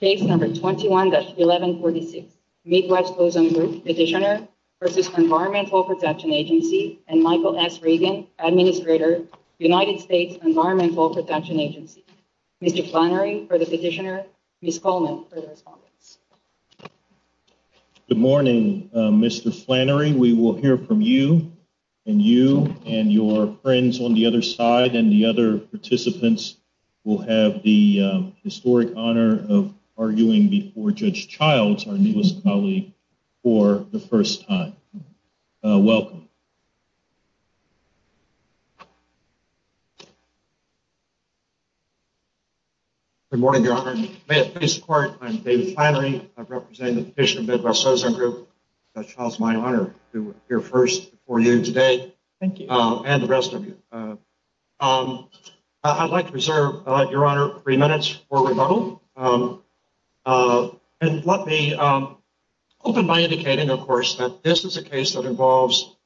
Case No. 21-1146, Midwest Ozone Group Petitioner v. Environmental Protection Agency, and Michael S. Regan, Administrator, United States Environmental Protection Agency. Mr. Flannery for the petitioner, Ms. Coleman for the respondents. Good morning, Mr. Flannery. We will hear from you and you and your friends on the other side, and the other participants will have the historic honor of arguing before Judge Childs, our newest colleague, for the first time. Welcome. Good morning, Your Honor. May it please the Court, I'm David Flannery. I'm representing the petitioner, Midwest Ozone Group. Judge Childs, it's my honor to appear first before you today, and the rest of you. I'd like to reserve, Your Honor, three minutes for rebuttal. And let me open by indicating, of course, that this is a case that involves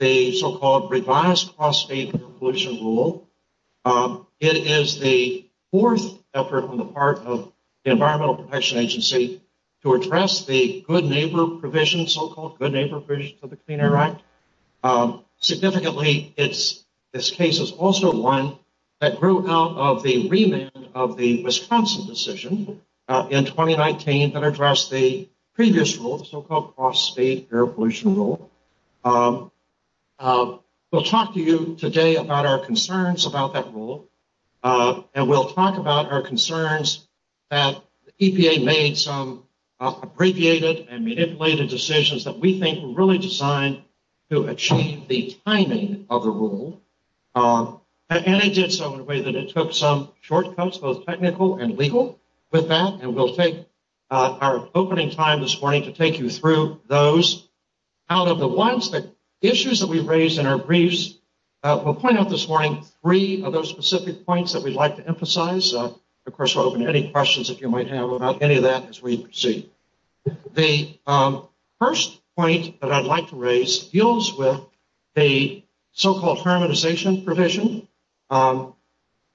the so-called revised cross-state pollution rule. It is the fourth effort on the part of the Environmental Protection Agency to address the good neighbor provision, so-called good neighbor provision to the Clean Air Act. Significantly, this case is also one that grew out of the remand of the Wisconsin decision in 2019 that addressed the previous rule, the so-called cross-state air pollution rule. We'll talk to you today about our concerns about that rule, and we'll talk about our concerns that EPA made some abbreviated and manipulated decisions that we think were really designed to achieve the timing of the rule. And it did so in a way that it took some shortcuts, both technical and legal, with that, and we'll take our opening time this morning to take you through those. Out of the ones, the issues that we raised in our briefs, we'll point out this morning three of those specific points that we'd like to emphasize. Of course, we'll open to any questions that you might have about any of that as we proceed. The first point that I'd like to raise deals with the so-called harmonization provision of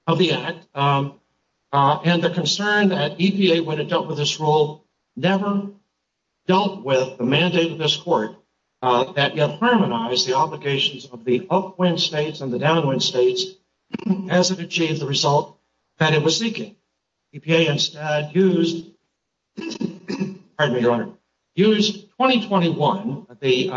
the Act, and the concern that EPA, when it dealt with this rule, never dealt with the mandate of this court that yet harmonized the obligations of the upwind states and the downwind states as it achieved the result that it was seeking. EPA instead used 2021, the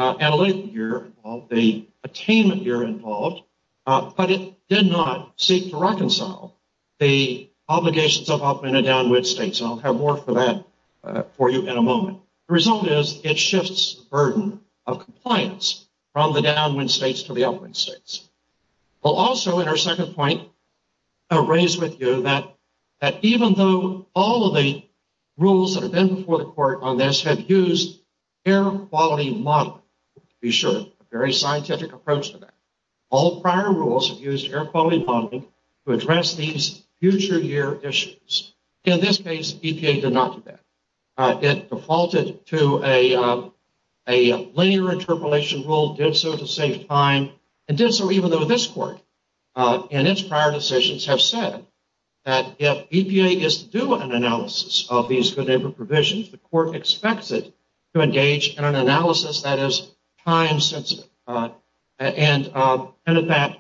attainment year involved, but it did not seek to reconcile the obligations of upwind and downwind states, and I'll have more for that for you in a moment. The result is it shifts the burden of compliance from the downwind states to the upwind states. We'll also, in our second point, raise with you that even though all of the rules that have been before the court on this have used air quality modeling, to be sure, a very scientific approach to that, all prior rules have used air quality modeling to address these future year issues. In this case, EPA did not do that. It defaulted to a linear interpolation rule, did so to save time, and did so even though this court in its prior decisions have said that if EPA is to do an analysis of these good neighbor provisions, the court expects it to engage in an analysis that is time-sensitive. And in fact,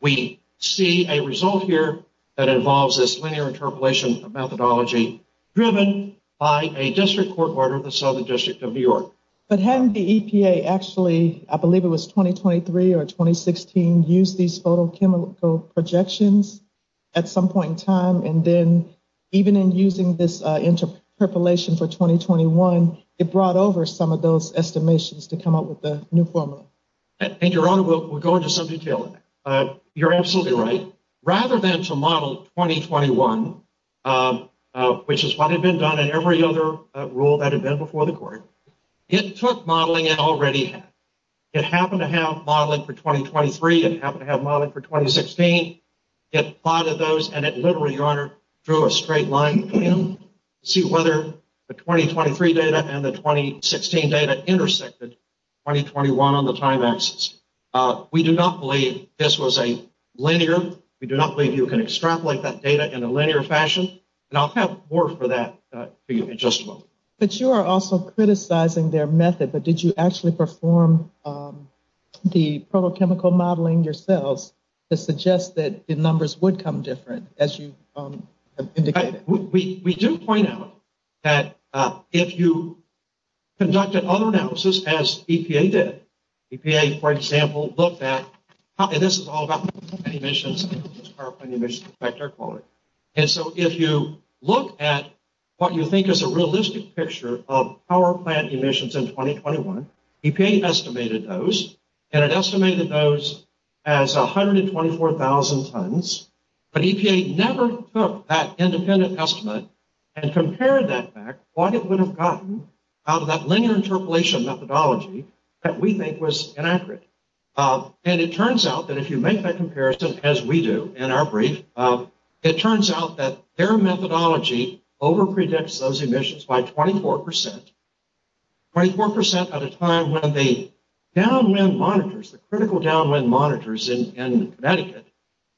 we see a result here that involves this linear interpolation methodology driven by a district court order of the Southern District of New York. But hadn't the EPA actually, I believe it was 2023 or 2016, used these photochemical projections at some point in time, and then even in using this interpolation for 2021, it brought over some of those estimations to come up with the new formula? And Your Honor, we'll go into some detail on that. You're absolutely right. Rather than to model 2021, which is what had been done in every other rule that had been before the court, it took modeling it already had. It happened to have modeling for 2023. It happened to have modeling for 2016. It plotted those, and it literally, Your Honor, drew a straight line to see whether the 2023 data and the 2016 data intersected 2021 on the time axis. We do not believe this was a linear. We do not believe you can extrapolate that data in a linear fashion. And I'll have more for that for you in just a moment. But you are also criticizing their method, but did you actually perform the photochemical modeling yourselves to suggest that the numbers would come different, as you indicated? We do point out that if you conducted other analysis, as EPA did, EPA, for example, looked at, and this is all about power plant emissions and how does power plant emissions affect air quality? And so if you look at what you think is a realistic picture of power plant emissions in 2021, EPA estimated those, and it estimated those as 124,000 tons. But EPA never took that independent estimate and compared that back, what it would have gotten out of that linear interpolation methodology that we think was inaccurate. And it turns out that if you make that comparison, as we do in our brief, it turns out that their methodology overpredicts those emissions by 24 percent. 24 percent at a time when the downwind monitors, the critical downwind monitors in Connecticut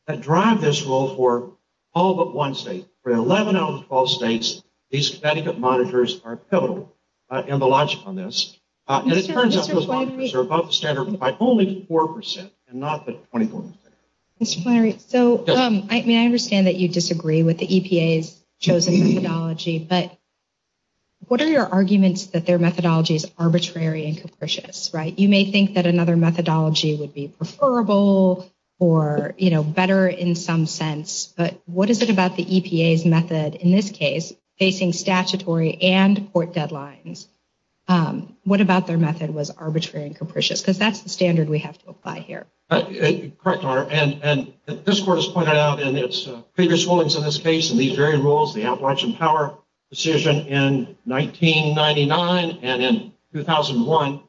that drive this rule for all but one state. For 11 out of 12 states, these Connecticut monitors are pivotal in the logic on this. And it turns out those monitors are above the standard by only 4 percent and not the 24 percent. So I understand that you disagree with the EPA's chosen methodology, but what are your arguments that their methodology is arbitrary and capricious, right? EPA's method, in this case, facing statutory and court deadlines. What about their method was arbitrary and capricious? Because that's the standard we have to apply here. Correct, Your Honor, and this court has pointed out in its previous rulings in this case, in these very rules, the Appalachian Power decision in 1999 and in 2001,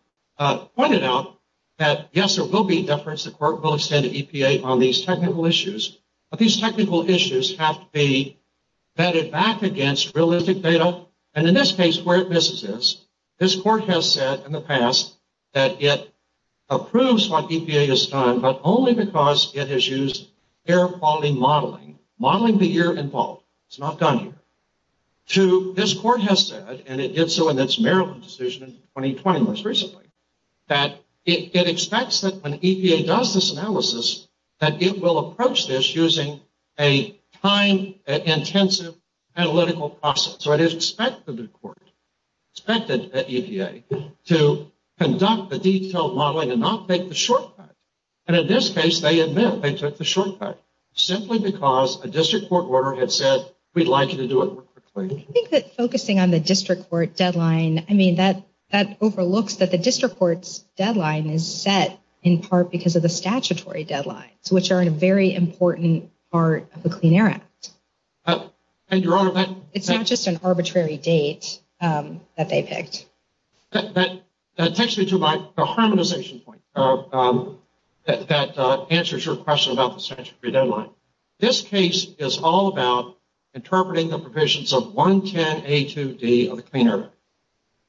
pointed out that, yes, there will be deference. The court will extend to EPA on these technical issues. But these technical issues have to be vetted back against realistic data. Now, and in this case, where this exists, this court has said in the past that it approves what EPA has done, but only because it has used air quality modeling, modeling the year involved. It's not done here. This court has said, and it did so in its Maryland decision in 2020 most recently, that it expects that when EPA does this analysis, that it will approach this using a time-intensive analytical process. So it is expected of the court, expected at EPA, to conduct the detailed modeling and not take the shortcut. And in this case, they admit they took the shortcut, simply because a district court order had said, we'd like you to do it more quickly. I think that focusing on the district court deadline, I mean, that overlooks that the district court's deadline is set in part because of the statutory deadlines, which are a very important part of the Clean Air Act. It's not just an arbitrary date that they picked. That takes me to my harmonization point that answers your question about the statutory deadline. This case is all about interpreting the provisions of 110A2D of the Clean Air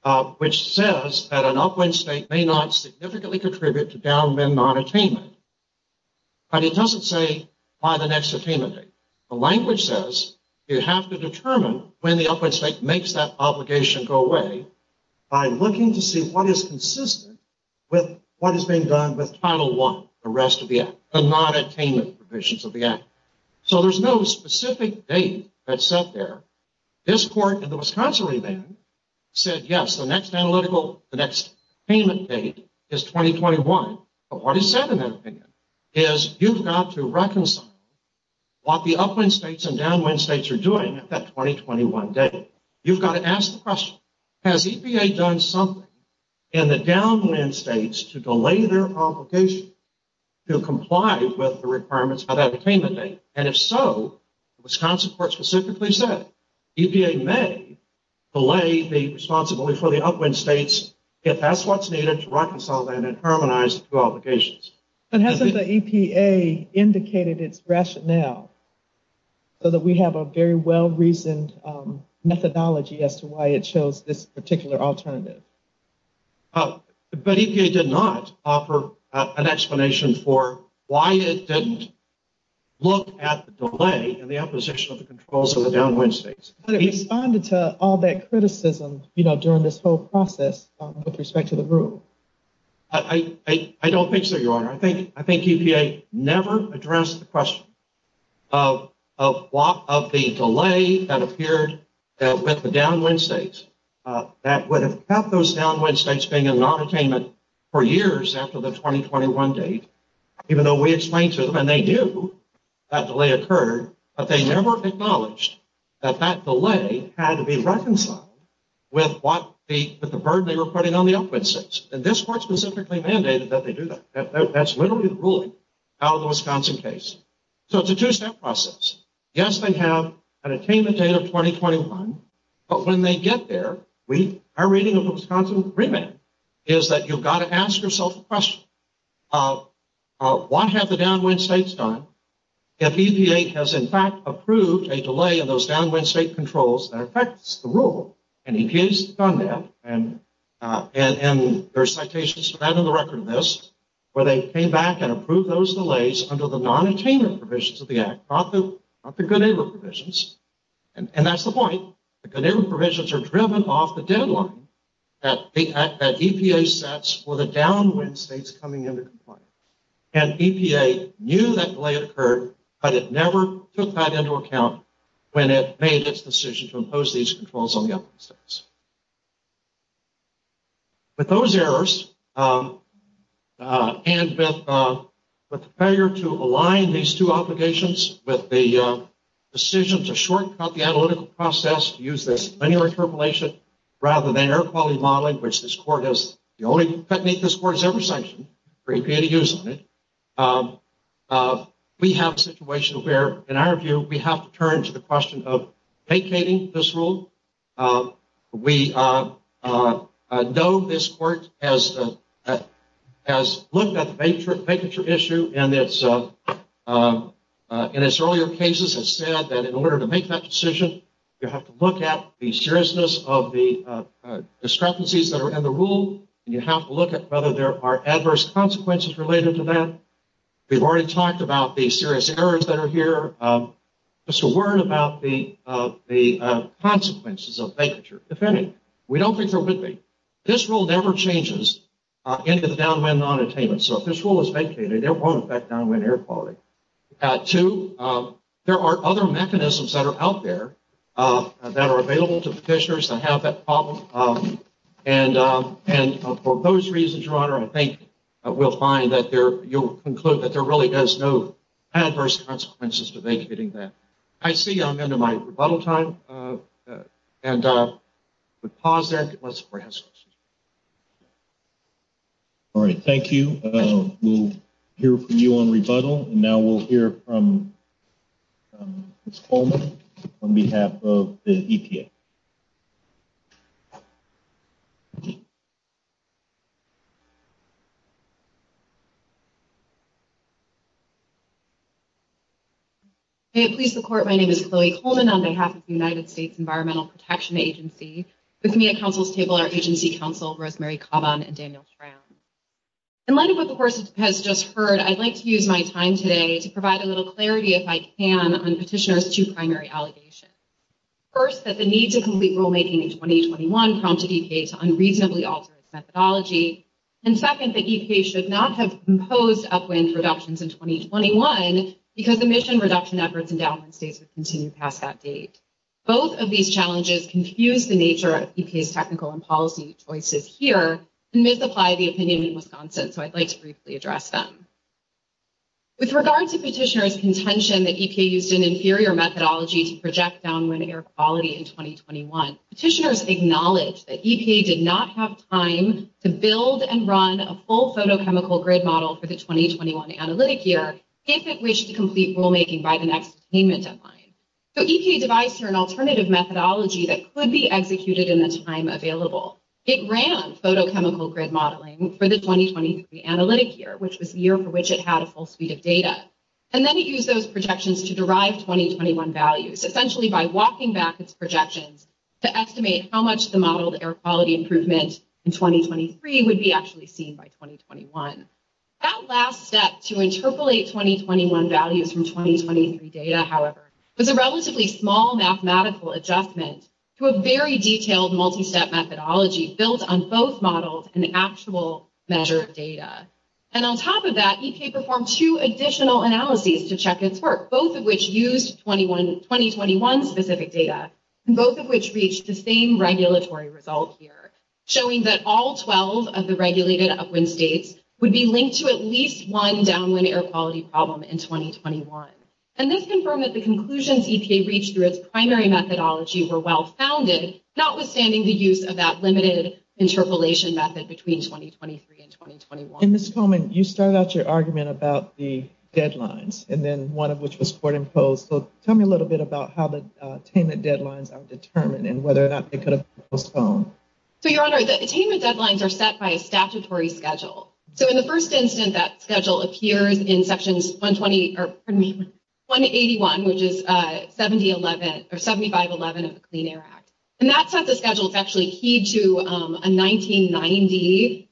Act, which says that an upwind state may not significantly contribute to downwind non-attainment. But it doesn't say by the next attainment date. The language says you have to determine when the upwind state makes that obligation go away by looking to see what is consistent with what is being done with Title I, the rest of the act, the non-attainment provisions of the act. So there's no specific date that's set there. This court in the Wisconsin remand said, yes, the next analytical, the next attainment date is 2021. But what is said in that opinion is you've got to reconcile what the upwind states and downwind states are doing at that 2021 date. You've got to ask the question, has EPA done something in the downwind states to delay their obligation to comply with the requirements of that attainment date? And if so, the Wisconsin court specifically said EPA may delay the responsibility for the upwind states if that's what's needed to reconcile and harmonize the two obligations. But hasn't the EPA indicated its rationale so that we have a very well-reasoned methodology as to why it chose this particular alternative? But EPA did not offer an explanation for why it didn't look at the delay and the opposition of the controls of the downwind states. But it responded to all that criticism, you know, during this whole process with respect to the rule. I don't think so, Your Honor. I think EPA never addressed the question of the delay that appeared with the downwind states that would have kept those downwind states being in non-attainment for years after the 2021 date. Even though we explained to them, and they do, that delay occurred, but they never acknowledged that that delay had to be reconciled with the burden they were putting on the upwind states. And this court specifically mandated that they do that. That's literally the ruling out of the Wisconsin case. So it's a two-step process. Yes, they have an attainment date of 2021. But when they get there, our reading of the Wisconsin agreement is that you've got to ask yourself a question. Why have the downwind states done if EPA has, in fact, approved a delay in those downwind state controls that affects the rule? And EPA has done that. And there are citations for that in the record of this, where they came back and approved those delays under the non-attainment provisions of the Act, not the good neighbor provisions. And that's the point. The good neighbor provisions are driven off the deadline that EPA sets for the downwind states coming into compliance. And EPA knew that delay had occurred, but it never took that into account when it made its decision to impose these controls on the upwind states. With those errors, and with the failure to align these two obligations with the decision to shortcut the analytical process to use this linear interpolation, rather than air quality modeling, which this court has, the only technique this court has ever sanctioned for EPA to use on it, we have a situation where, in our view, we have to turn to the question of vacating this rule. We know this court has looked at the vacature issue, and in its earlier cases has said that in order to make that decision, you have to look at the seriousness of the discrepancies that are in the rule, and you have to look at whether there are adverse consequences related to that. We've already talked about the serious errors that are here. Just a word about the consequences of vacature. If any, we don't think there would be. This rule never changes into the downwind non-attainment, so if this rule is vacated, it won't affect downwind air quality. Two, there are other mechanisms that are out there that are available to petitioners that have that problem, and for those reasons, Your Honor, I think we'll find that you'll conclude that there really is no adverse consequences to vacating that. I see I'm into my rebuttal time, and we'll pause there. All right, thank you. We'll hear from you on rebuttal, and now we'll hear from Ms. Coleman on behalf of the EPA. May it please the Court, my name is Chloe Coleman on behalf of the United States Environmental Protection Agency. With me at counsel's table are Agency Counsel Rosemary Kavan and Daniel Schramm. In light of what the Court has just heard, I'd like to use my time today to provide a little clarity, if I can, on petitioners' two primary allegations. First, that the need to complete rulemaking in 2021 prompted EPA to unreasonably alter its methodology, and second, that EPA should not have imposed upwind reductions in 2021 because emission reduction efforts in downwind states would continue past that date. Both of these challenges confuse the nature of EPA's technical and policy choices here and misapply the opinion in Wisconsin, so I'd like to briefly address them. With regard to petitioners' contention that EPA used an inferior methodology to project downwind air quality in 2021, petitioners acknowledge that EPA did not have time to build and run a full photochemical grid model for the 2021 analytic year, if it wished to complete rulemaking by the next attainment deadline. So EPA devised here an alternative methodology that could be executed in the time available. It ran photochemical grid modeling for the 2020 analytic year, which was the year for which it had a full suite of data, and then it used those projections to derive 2021 values, essentially by walking back its projections to estimate how much the modeled air quality improvement in 2023 would be actually seen by 2021. That last step to interpolate 2021 values from 2023 data, however, was a relatively small mathematical adjustment to a very detailed multi-step methodology built on both models and actual measured data. And on top of that, EPA performed two additional analyses to check its work, both of which used 2021-specific data, and both of which reached the same regulatory result here, showing that all 12 of the regulated upwind states would be linked to at least one downwind air quality problem in 2021. And this confirmed that the conclusions EPA reached through its primary methodology were well-founded, notwithstanding the use of that limited interpolation method between 2023 and 2021. And Ms. Coleman, you started out your argument about the deadlines, and then one of which was court-imposed. So tell me a little bit about how the attainment deadlines are determined and whether or not they could have postponed. So, Your Honor, the attainment deadlines are set by a statutory schedule. So in the first instance, that schedule appears in Sections 120, or pardon me, 181, which is 7511 of the Clean Air Act. And that sets a schedule that's actually key to a 1990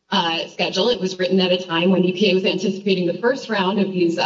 schedule. It was written at a time when EPA was anticipating the first round of these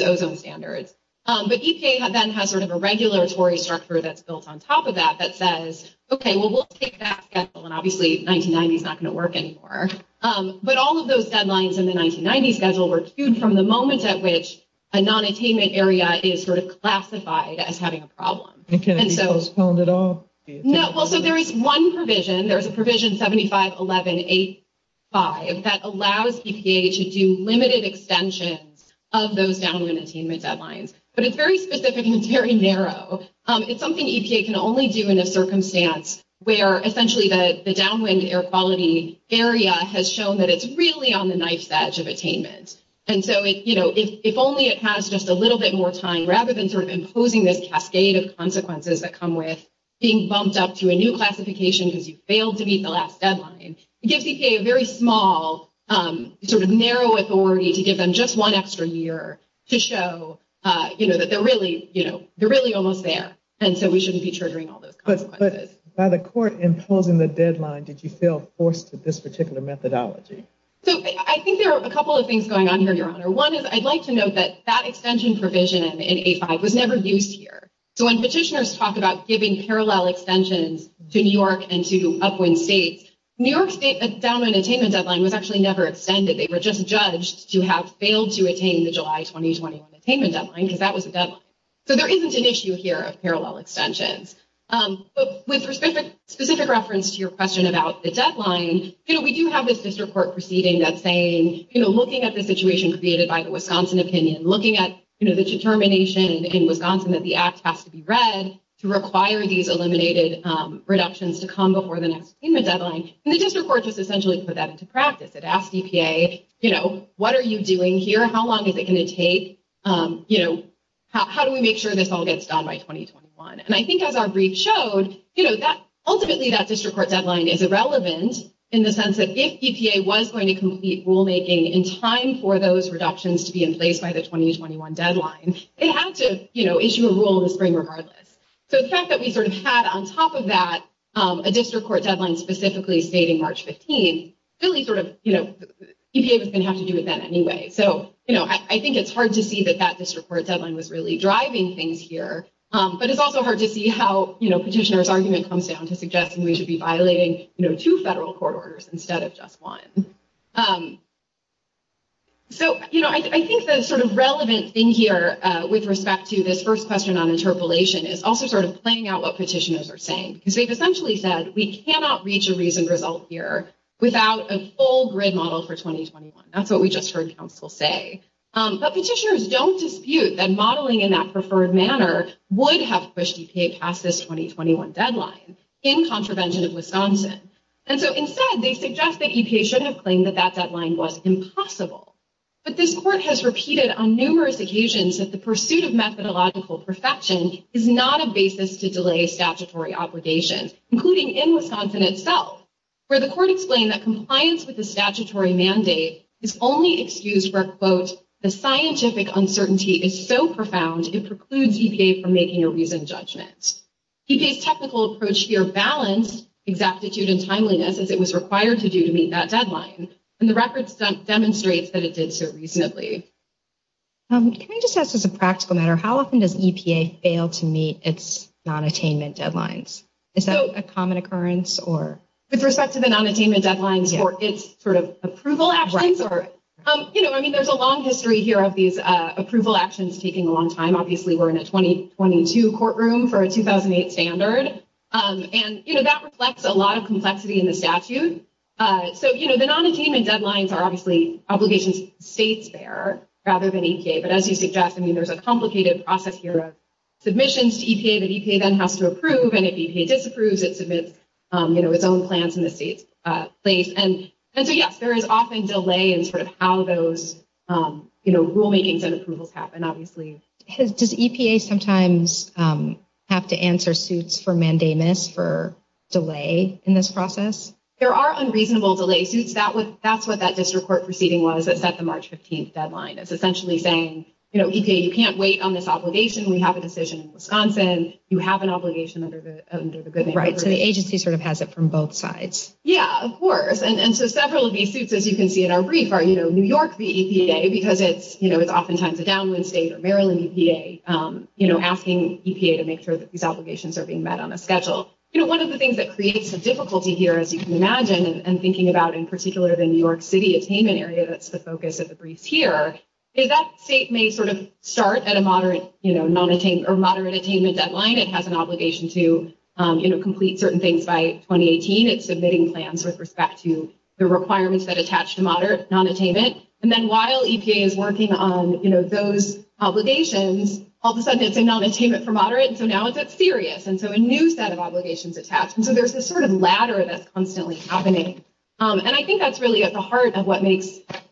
ozone standards. But EPA then has sort of a regulatory structure that's built on top of that that says, OK, well, we'll take that schedule, and obviously 1990 is not going to work anymore. But all of those deadlines in the 1990 schedule were cued from the moment at which a non-attainment area is sort of classified as having a problem. And can it be postponed at all? No. Well, so there is one provision. There is a provision 7511.85 that allows EPA to do limited extensions of those downwind attainment deadlines. But it's very specific and it's very narrow. It's something EPA can only do in a circumstance where essentially the downwind air quality area has shown that it's really on the knife's edge of attainment. And so, you know, if only it has just a little bit more time, rather than sort of imposing this cascade of consequences that come with being bumped up to a new classification because you failed to meet the last deadline, it gives EPA a very small, sort of narrow authority to give them just one extra year to show, you know, that they're really almost there. And so we shouldn't be triggering all those consequences. But by the court imposing the deadline, did you feel forced to this particular methodology? So I think there are a couple of things going on here, Your Honor. One is I'd like to note that that extension provision in A5 was never used here. So when petitioners talk about giving parallel extensions to New York and to upwind states, New York's downwind attainment deadline was actually never extended. They were just judged to have failed to attain the July 2021 attainment deadline because that was the deadline. So there isn't an issue here of parallel extensions. But with specific reference to your question about the deadline, you know, we have this district court proceeding that's saying, you know, looking at the situation created by the Wisconsin opinion, looking at the determination in Wisconsin that the act has to be read to require these eliminated reductions to come before the next attainment deadline. And the district court just essentially put that into practice. It asked EPA, you know, what are you doing here? How long is it going to take? You know, how do we make sure this all gets done by 2021? And I think as our brief showed, you know, ultimately that district court deadline is irrelevant in the sense that if EPA was going to complete rulemaking in time for those reductions to be in place by the 2021 deadline, it had to, you know, issue a rule in the spring regardless. So the fact that we sort of had on top of that a district court deadline specifically stating March 15, really sort of, you know, EPA was going to have to do it then anyway. So, you know, I think it's hard to see that that district court deadline was really driving things here. But it's also hard to see how, you know, petitioner's argument comes down to suggesting we should be violating, you know, two federal court orders instead of just one. So, you know, I think the sort of relevant thing here with respect to this first question on interpolation is also sort of playing out what petitioners are saying, because they've essentially said we cannot reach a reasoned result here without a full grid model for 2021. That's what we just heard counsel say. But petitioners don't dispute that modeling in that preferred manner would have pushed EPA past this 2021 deadline in contravention of Wisconsin. And so instead, they suggest that EPA shouldn't have claimed that that deadline was impossible. But this court has repeated on numerous occasions that the pursuit of methodological perfection is not a basis to delay statutory obligations, including in Wisconsin itself, where the court explained that compliance with the statutory mandate is only excused where, quote, the scientific uncertainty is so profound it precludes EPA from making a reasoned judgment. EPA's technical approach here balanced exactitude and timeliness as it was required to do to meet that deadline. And the record demonstrates that it did so reasonably. Can I just ask as a practical matter, how often does EPA fail to meet its nonattainment deadlines? Is that a common occurrence or? With respect to the nonattainment deadlines or its sort of approval actions? You know, I mean, there's a long history here of these approval actions taking a long time. Obviously, we're in a 2022 courtroom for a 2008 standard. And, you know, that reflects a lot of complexity in the statute. So, you know, the nonattainment deadlines are obviously obligations states bear rather than EPA. But as you suggest, I mean, there's a complicated process here of submissions to EPA that EPA then has to approve. And if EPA disapproves, it submits its own plans in the state's place. And so, yes, there is often delay in sort of how those rulemakings and approvals happen, obviously. Does EPA sometimes have to answer suits for mandamus for delay in this process? There are unreasonable delay suits. That's what that district court proceeding was that set the March 15th deadline. It's essentially saying, you know, EPA, you can't wait on this obligation. We have a decision in Wisconsin. You have an obligation under the good name. Right. So the agency sort of has it from both sides. Yeah, of course. And so several of these suits, as you can see in our brief, are, you know, New York v. EPA, because it's, you know, it's oftentimes a downwind state or Maryland EPA, you know, asking EPA to make sure that these obligations are being met on a schedule. You know, one of the things that creates the difficulty here, as you can imagine, and thinking about in particular the New York City attainment area, that's the focus of the briefs here, is that state may sort of start at a moderate, you know, non-attainment or moderate attainment deadline. It has an obligation to, you know, complete certain things by 2018. It's submitting plans with respect to the requirements that attach to moderate non-attainment. And then while EPA is working on, you know, those obligations, all of a sudden it's a non-attainment for moderate. So now it's serious. And so a new set of obligations attached. And so there's this sort of ladder that's constantly happening. And I think that's really at the heart of what makes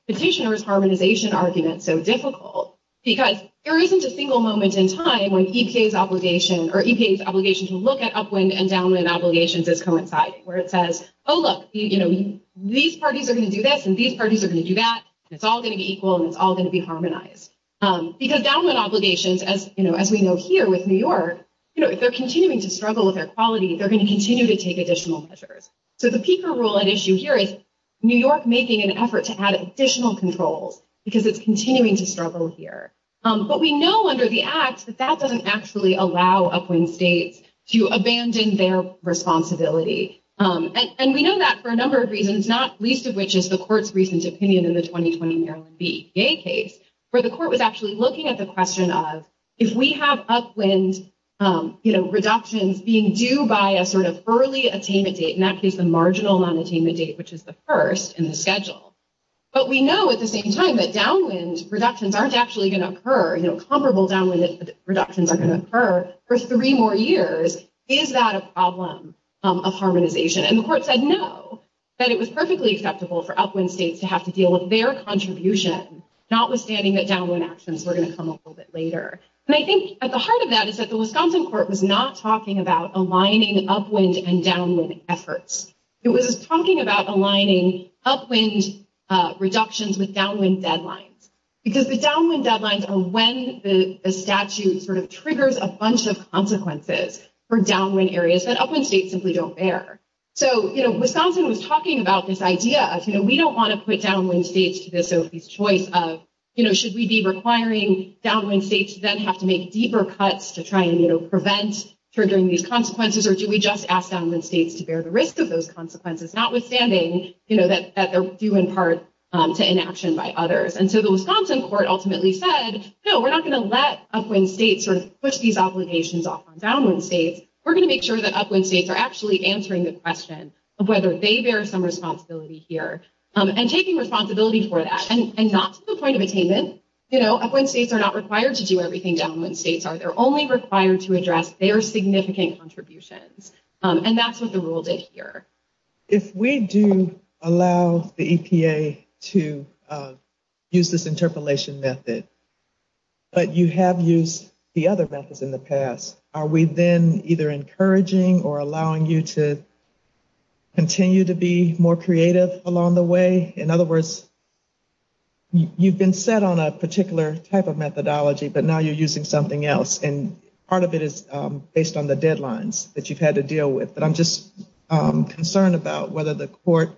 petitioner's harmonization argument so difficult, because there isn't a single moment in time when EPA's obligation or EPA's obligation to look at upwind and downwind obligations as coinciding, where it says, oh, look, you know, these parties are going to do this and these parties are going to do that. It's all going to be equal and it's all going to be harmonized. Because downwind obligations, as you know, as we know here with New York, you know, if they're continuing to struggle with their quality, they're going to continue to take additional measures. So the peaker rule at issue here is New York making an effort to add additional controls because it's continuing to struggle here. But we know under the act that that doesn't actually allow upwind states to abandon their responsibility. And we know that for a number of reasons, not least of which is the court's recent opinion in the 2020 Maryland EPA case, where the court was actually looking at the question of if we have upwind, you know, in that case the marginal amount attainment date, which is the first in the schedule. But we know at the same time that downwind reductions aren't actually going to occur, you know, comparable downwind reductions are going to occur for three more years. Is that a problem of harmonization? And the court said no, that it was perfectly acceptable for upwind states to have to deal with their contribution, notwithstanding that downwind actions were going to come a little bit later. And I think at the heart of that is that the Wisconsin court was not talking about aligning upwind and downwind efforts. It was talking about aligning upwind reductions with downwind deadlines. Because the downwind deadlines are when the statute sort of triggers a bunch of consequences for downwind areas that upwind states simply don't bear. So, you know, Wisconsin was talking about this idea of, you know, should we be requiring downwind states then have to make deeper cuts to try and, you know, prevent triggering these consequences or do we just ask downwind states to bear the risk of those consequences, notwithstanding, you know, that they're due in part to inaction by others. And so the Wisconsin court ultimately said, no, we're not going to let upwind states sort of push these obligations off on downwind states. We're going to make sure that upwind states are actually answering the question of whether they bear some responsibility here and taking responsibility for that and not to the point of attainment. You know, upwind states are not required to do everything downwind states are. They're only required to address their significant contributions. And that's what the rule did here. If we do allow the EPA to use this interpolation method, but you have used the other methods in the past, are we then either encouraging or allowing you to continue to be more creative along the way? In other words, you've been set on a particular type of methodology, but now you're using something else. And part of it is based on the deadlines that you've had to deal with. But I'm just concerned about whether the court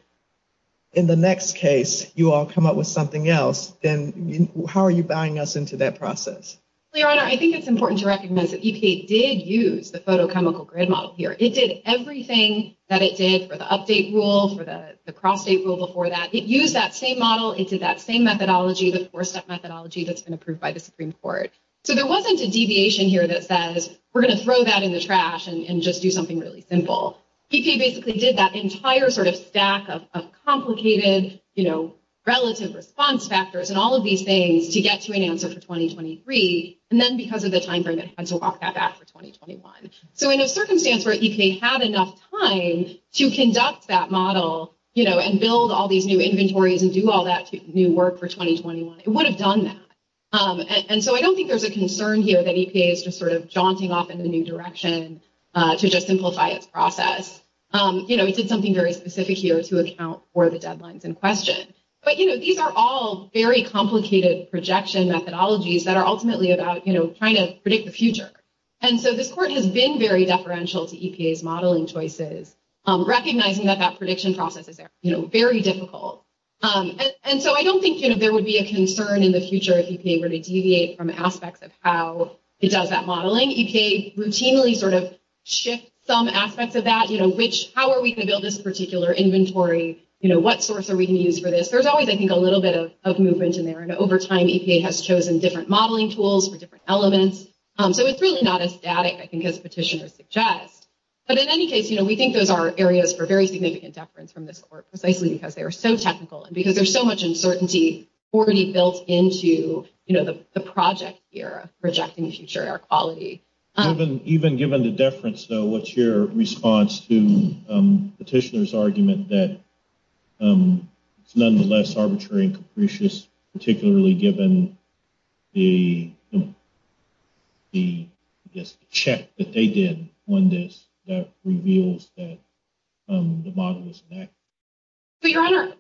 in the next case, you all come up with something else. Then how are you buying us into that process? Your Honor, I think it's important to recognize that EPA did use the photochemical grid model here. It did everything that it did for the update rule, for the cross-state rule before that. It used that same model. It did that same methodology, the four-step methodology that's been approved by the Supreme Court. So there wasn't a deviation here that says we're going to throw that in the trash and just do something really simple. EPA basically did that entire sort of stack of complicated, you know, relative response factors and all of these things to get to an answer for 2023. And then because of the timeframe, it had to walk that back for 2021. So in a circumstance where EPA had enough time to conduct that model, you know, and build all these new inventories and do all that new work for 2021, it would have done that. And so I don't think there's a concern here that EPA is just sort of jaunting off in a new direction to just simplify its process. You know, it did something very specific here to account for the deadlines in question. But, you know, these are all very complicated projection methodologies that are ultimately about, you know, trying to predict the future. And so this court has been very deferential to EPA's modeling choices, recognizing that that prediction process is, you know, very difficult. And so I don't think, you know, there would be a concern in the future if EPA were to deviate from aspects of how it does that modeling. EPA routinely sort of shifts some aspects of that, you know, which, how are we going to build this particular inventory? You know, what source are we going to use for this? There's always, I think, a little bit of movement in there. And over time, EPA has chosen different modeling tools for different elements. So it's really not as static, I think, as petitioners suggest. But in any case, you know, we think those are areas for very significant deference from this court, precisely because they are so technical and because there's so much uncertainty already built into, you know, the project here of projecting future air quality. Even given the deference, though, what's your response to the petitioner's argument that it's nonetheless arbitrary and capricious, particularly given the check that they did on this that reveals that the model is inaccurate? But, Your Honor,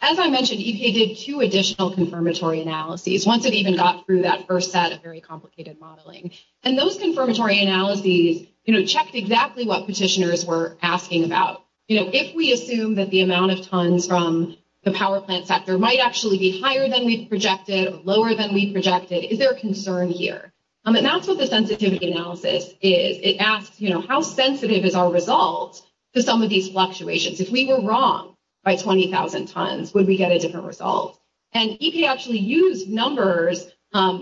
as I mentioned, EPA did two additional confirmatory analyses once it even got through that first set of very complicated modeling. And those confirmatory analyses, you know, checked exactly what petitioners were asking about. You know, if we assume that the amount of tons from the power plant sector might actually be higher than we projected, lower than we projected, is there a concern here? And that's what the sensitivity analysis is. It asks, you know, how sensitive is our result to some of these fluctuations? If we were wrong by 20,000 tons, would we get a different result? And EPA actually used numbers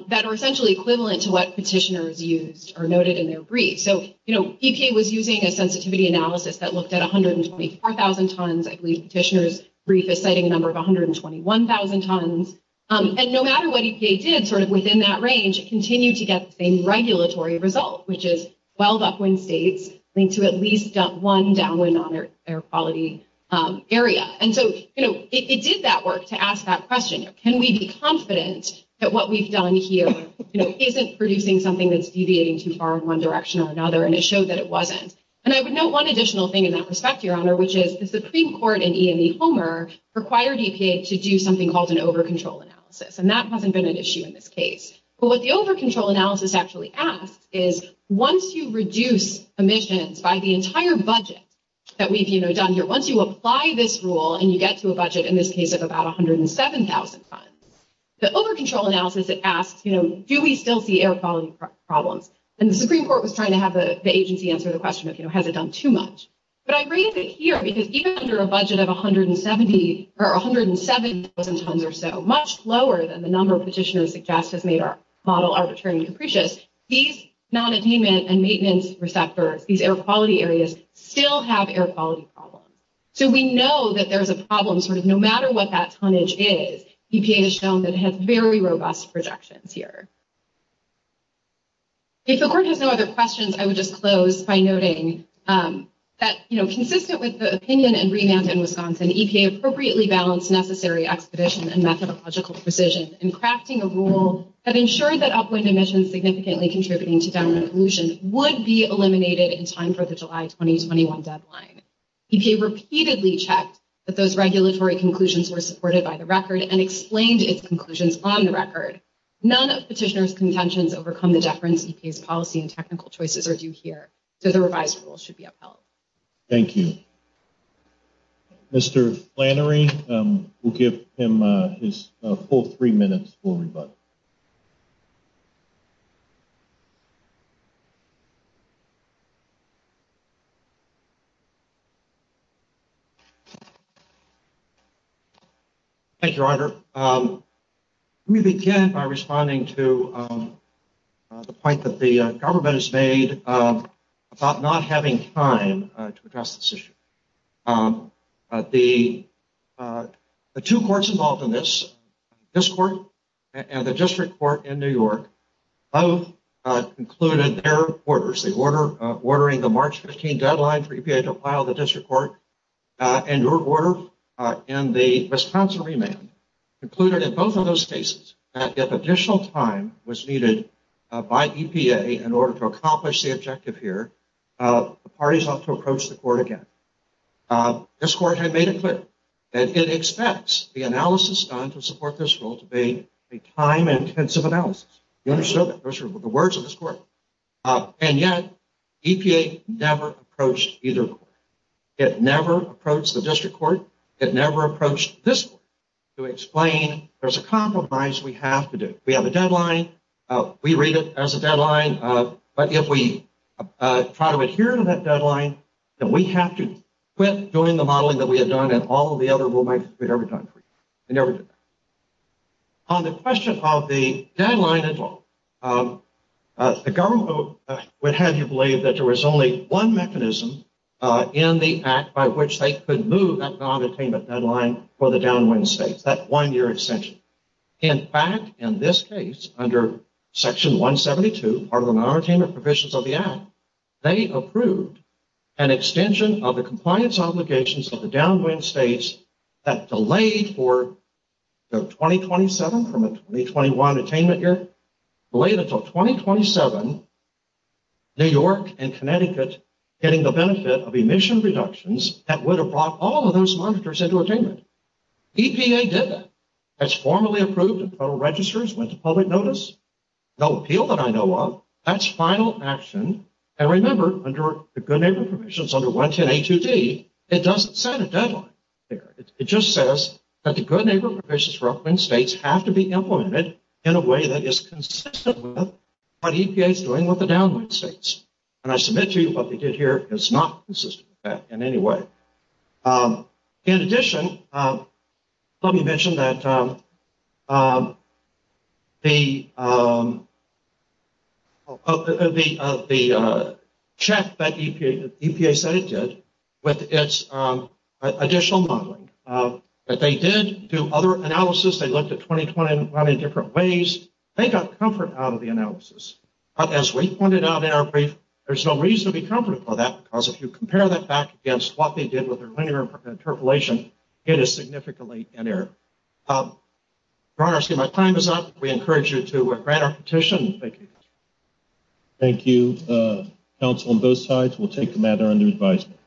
that are essentially equivalent to what petitioners used or noted in their brief. So, you know, EPA was using a sensitivity analysis that looked at 124,000 tons. I believe the petitioner's brief is citing a number of 121,000 tons. And no matter what EPA did sort of within that range, it continued to get the same regulatory result, which is 12 upwind states linked to at least one downwind non-air quality area. And so, you know, it did that work to ask that question. Can we be confident that what we've done here, you know, isn't producing something that's deviating too far in one direction or another? And it showed that it wasn't. And I would note one additional thing in that respect, Your Honor, which is the Supreme Court and EME Homer required EPA to do something called an over-control analysis. And that hasn't been an issue in this case. But what the over-control analysis actually asks is once you reduce emissions by the entire budget that we've, you know, done here, once you apply this rule and you get to a budget in this case of about 107,000 tons, the over-control analysis, it asks, you know, do we still see air quality problems? And the Supreme Court was trying to have the agency answer the question of, you know, has it done too much? But I raised it here because even under a budget of 170 or 107,000 tons or so, much lower than the number petitioners suggest has made our model arbitrary and capricious, these non-attainment and maintenance receptors, these air quality areas, still have air quality problems. So we know that there's a problem sort of no matter what that tonnage is. EPA has shown that it has very robust projections here. If the Court has no other questions, I would just close by noting that, you know, consistent with the opinion and remand in Wisconsin, EPA appropriately balanced necessary expedition and methodological precision in crafting a rule that ensured that upwind emissions significantly contributing to downwind pollution would be eliminated in time for the July 2021 deadline. EPA repeatedly checked that those regulatory conclusions were supported by the record and explained its conclusions on the record. None of petitioners' contentions overcome the deference EPA's policy and technical choices are due here, so the revised rule should be upheld. Thank you. Mr. Flannery, we'll give him his full three minutes for rebuttal. Let me begin by responding to the point that the government has made about not having time to address this issue. The two courts involved in this, this court and the district court in New York, both included their orders, ordering the March 15 deadline for EPA to file the district court and your order in the Wisconsin remand, included in both of those cases, that if additional time was needed by EPA in order to accomplish the objective here, the parties ought to approach the court again. This court had made it clear that it expects the analysis done to support this rule to be a time-intensive analysis. You understood that? Those were the words of this court. And yet, EPA never approached either court. It never approached the district court. It never approached this court to explain there's a compromise we have to do. We have a deadline. We read it as a deadline. But if we try to adhere to that deadline, then we have to quit doing the modeling that we had done and all of the other rulemaking we'd ever done for you. We never did that. On the question of the deadline involved, the government would have you believe that there was only one mechanism in the Act by which they could move that non-attainment deadline for the downwind states, that one-year extension. In fact, in this case, under Section 172, part of the non-attainment provisions of the Act, they approved an extension of the compliance obligations of the downwind states that delayed for 2027, from a 2021 attainment year, delayed until 2027, New York and Connecticut getting the benefit of emission reductions that would have brought all of those monitors into attainment. EPA did that. That's formally approved and total registers went to public notice. No appeal that I know of. That's final action. And remember, under the good neighbor provisions under 110A2D, it doesn't set a deadline there. It just says that the good neighbor provisions for upwind states have to be implemented in a way that is consistent with what EPA is doing with the downwind states. And I submit to you what they did here is not consistent with that in any way. In addition, let me mention that the check that EPA said it did with its additional modeling, that they did do other analysis. They looked at 2020 in many different ways. They got comfort out of the analysis. But as we pointed out in our brief, there's no reason to be comfortable with that because if you compare that back against what they did with their linear interpolation, it is significantly in error. Your Honor, my time is up. We encourage you to grant our petition. Thank you. Thank you, counsel on both sides. We'll take the matter under advisement.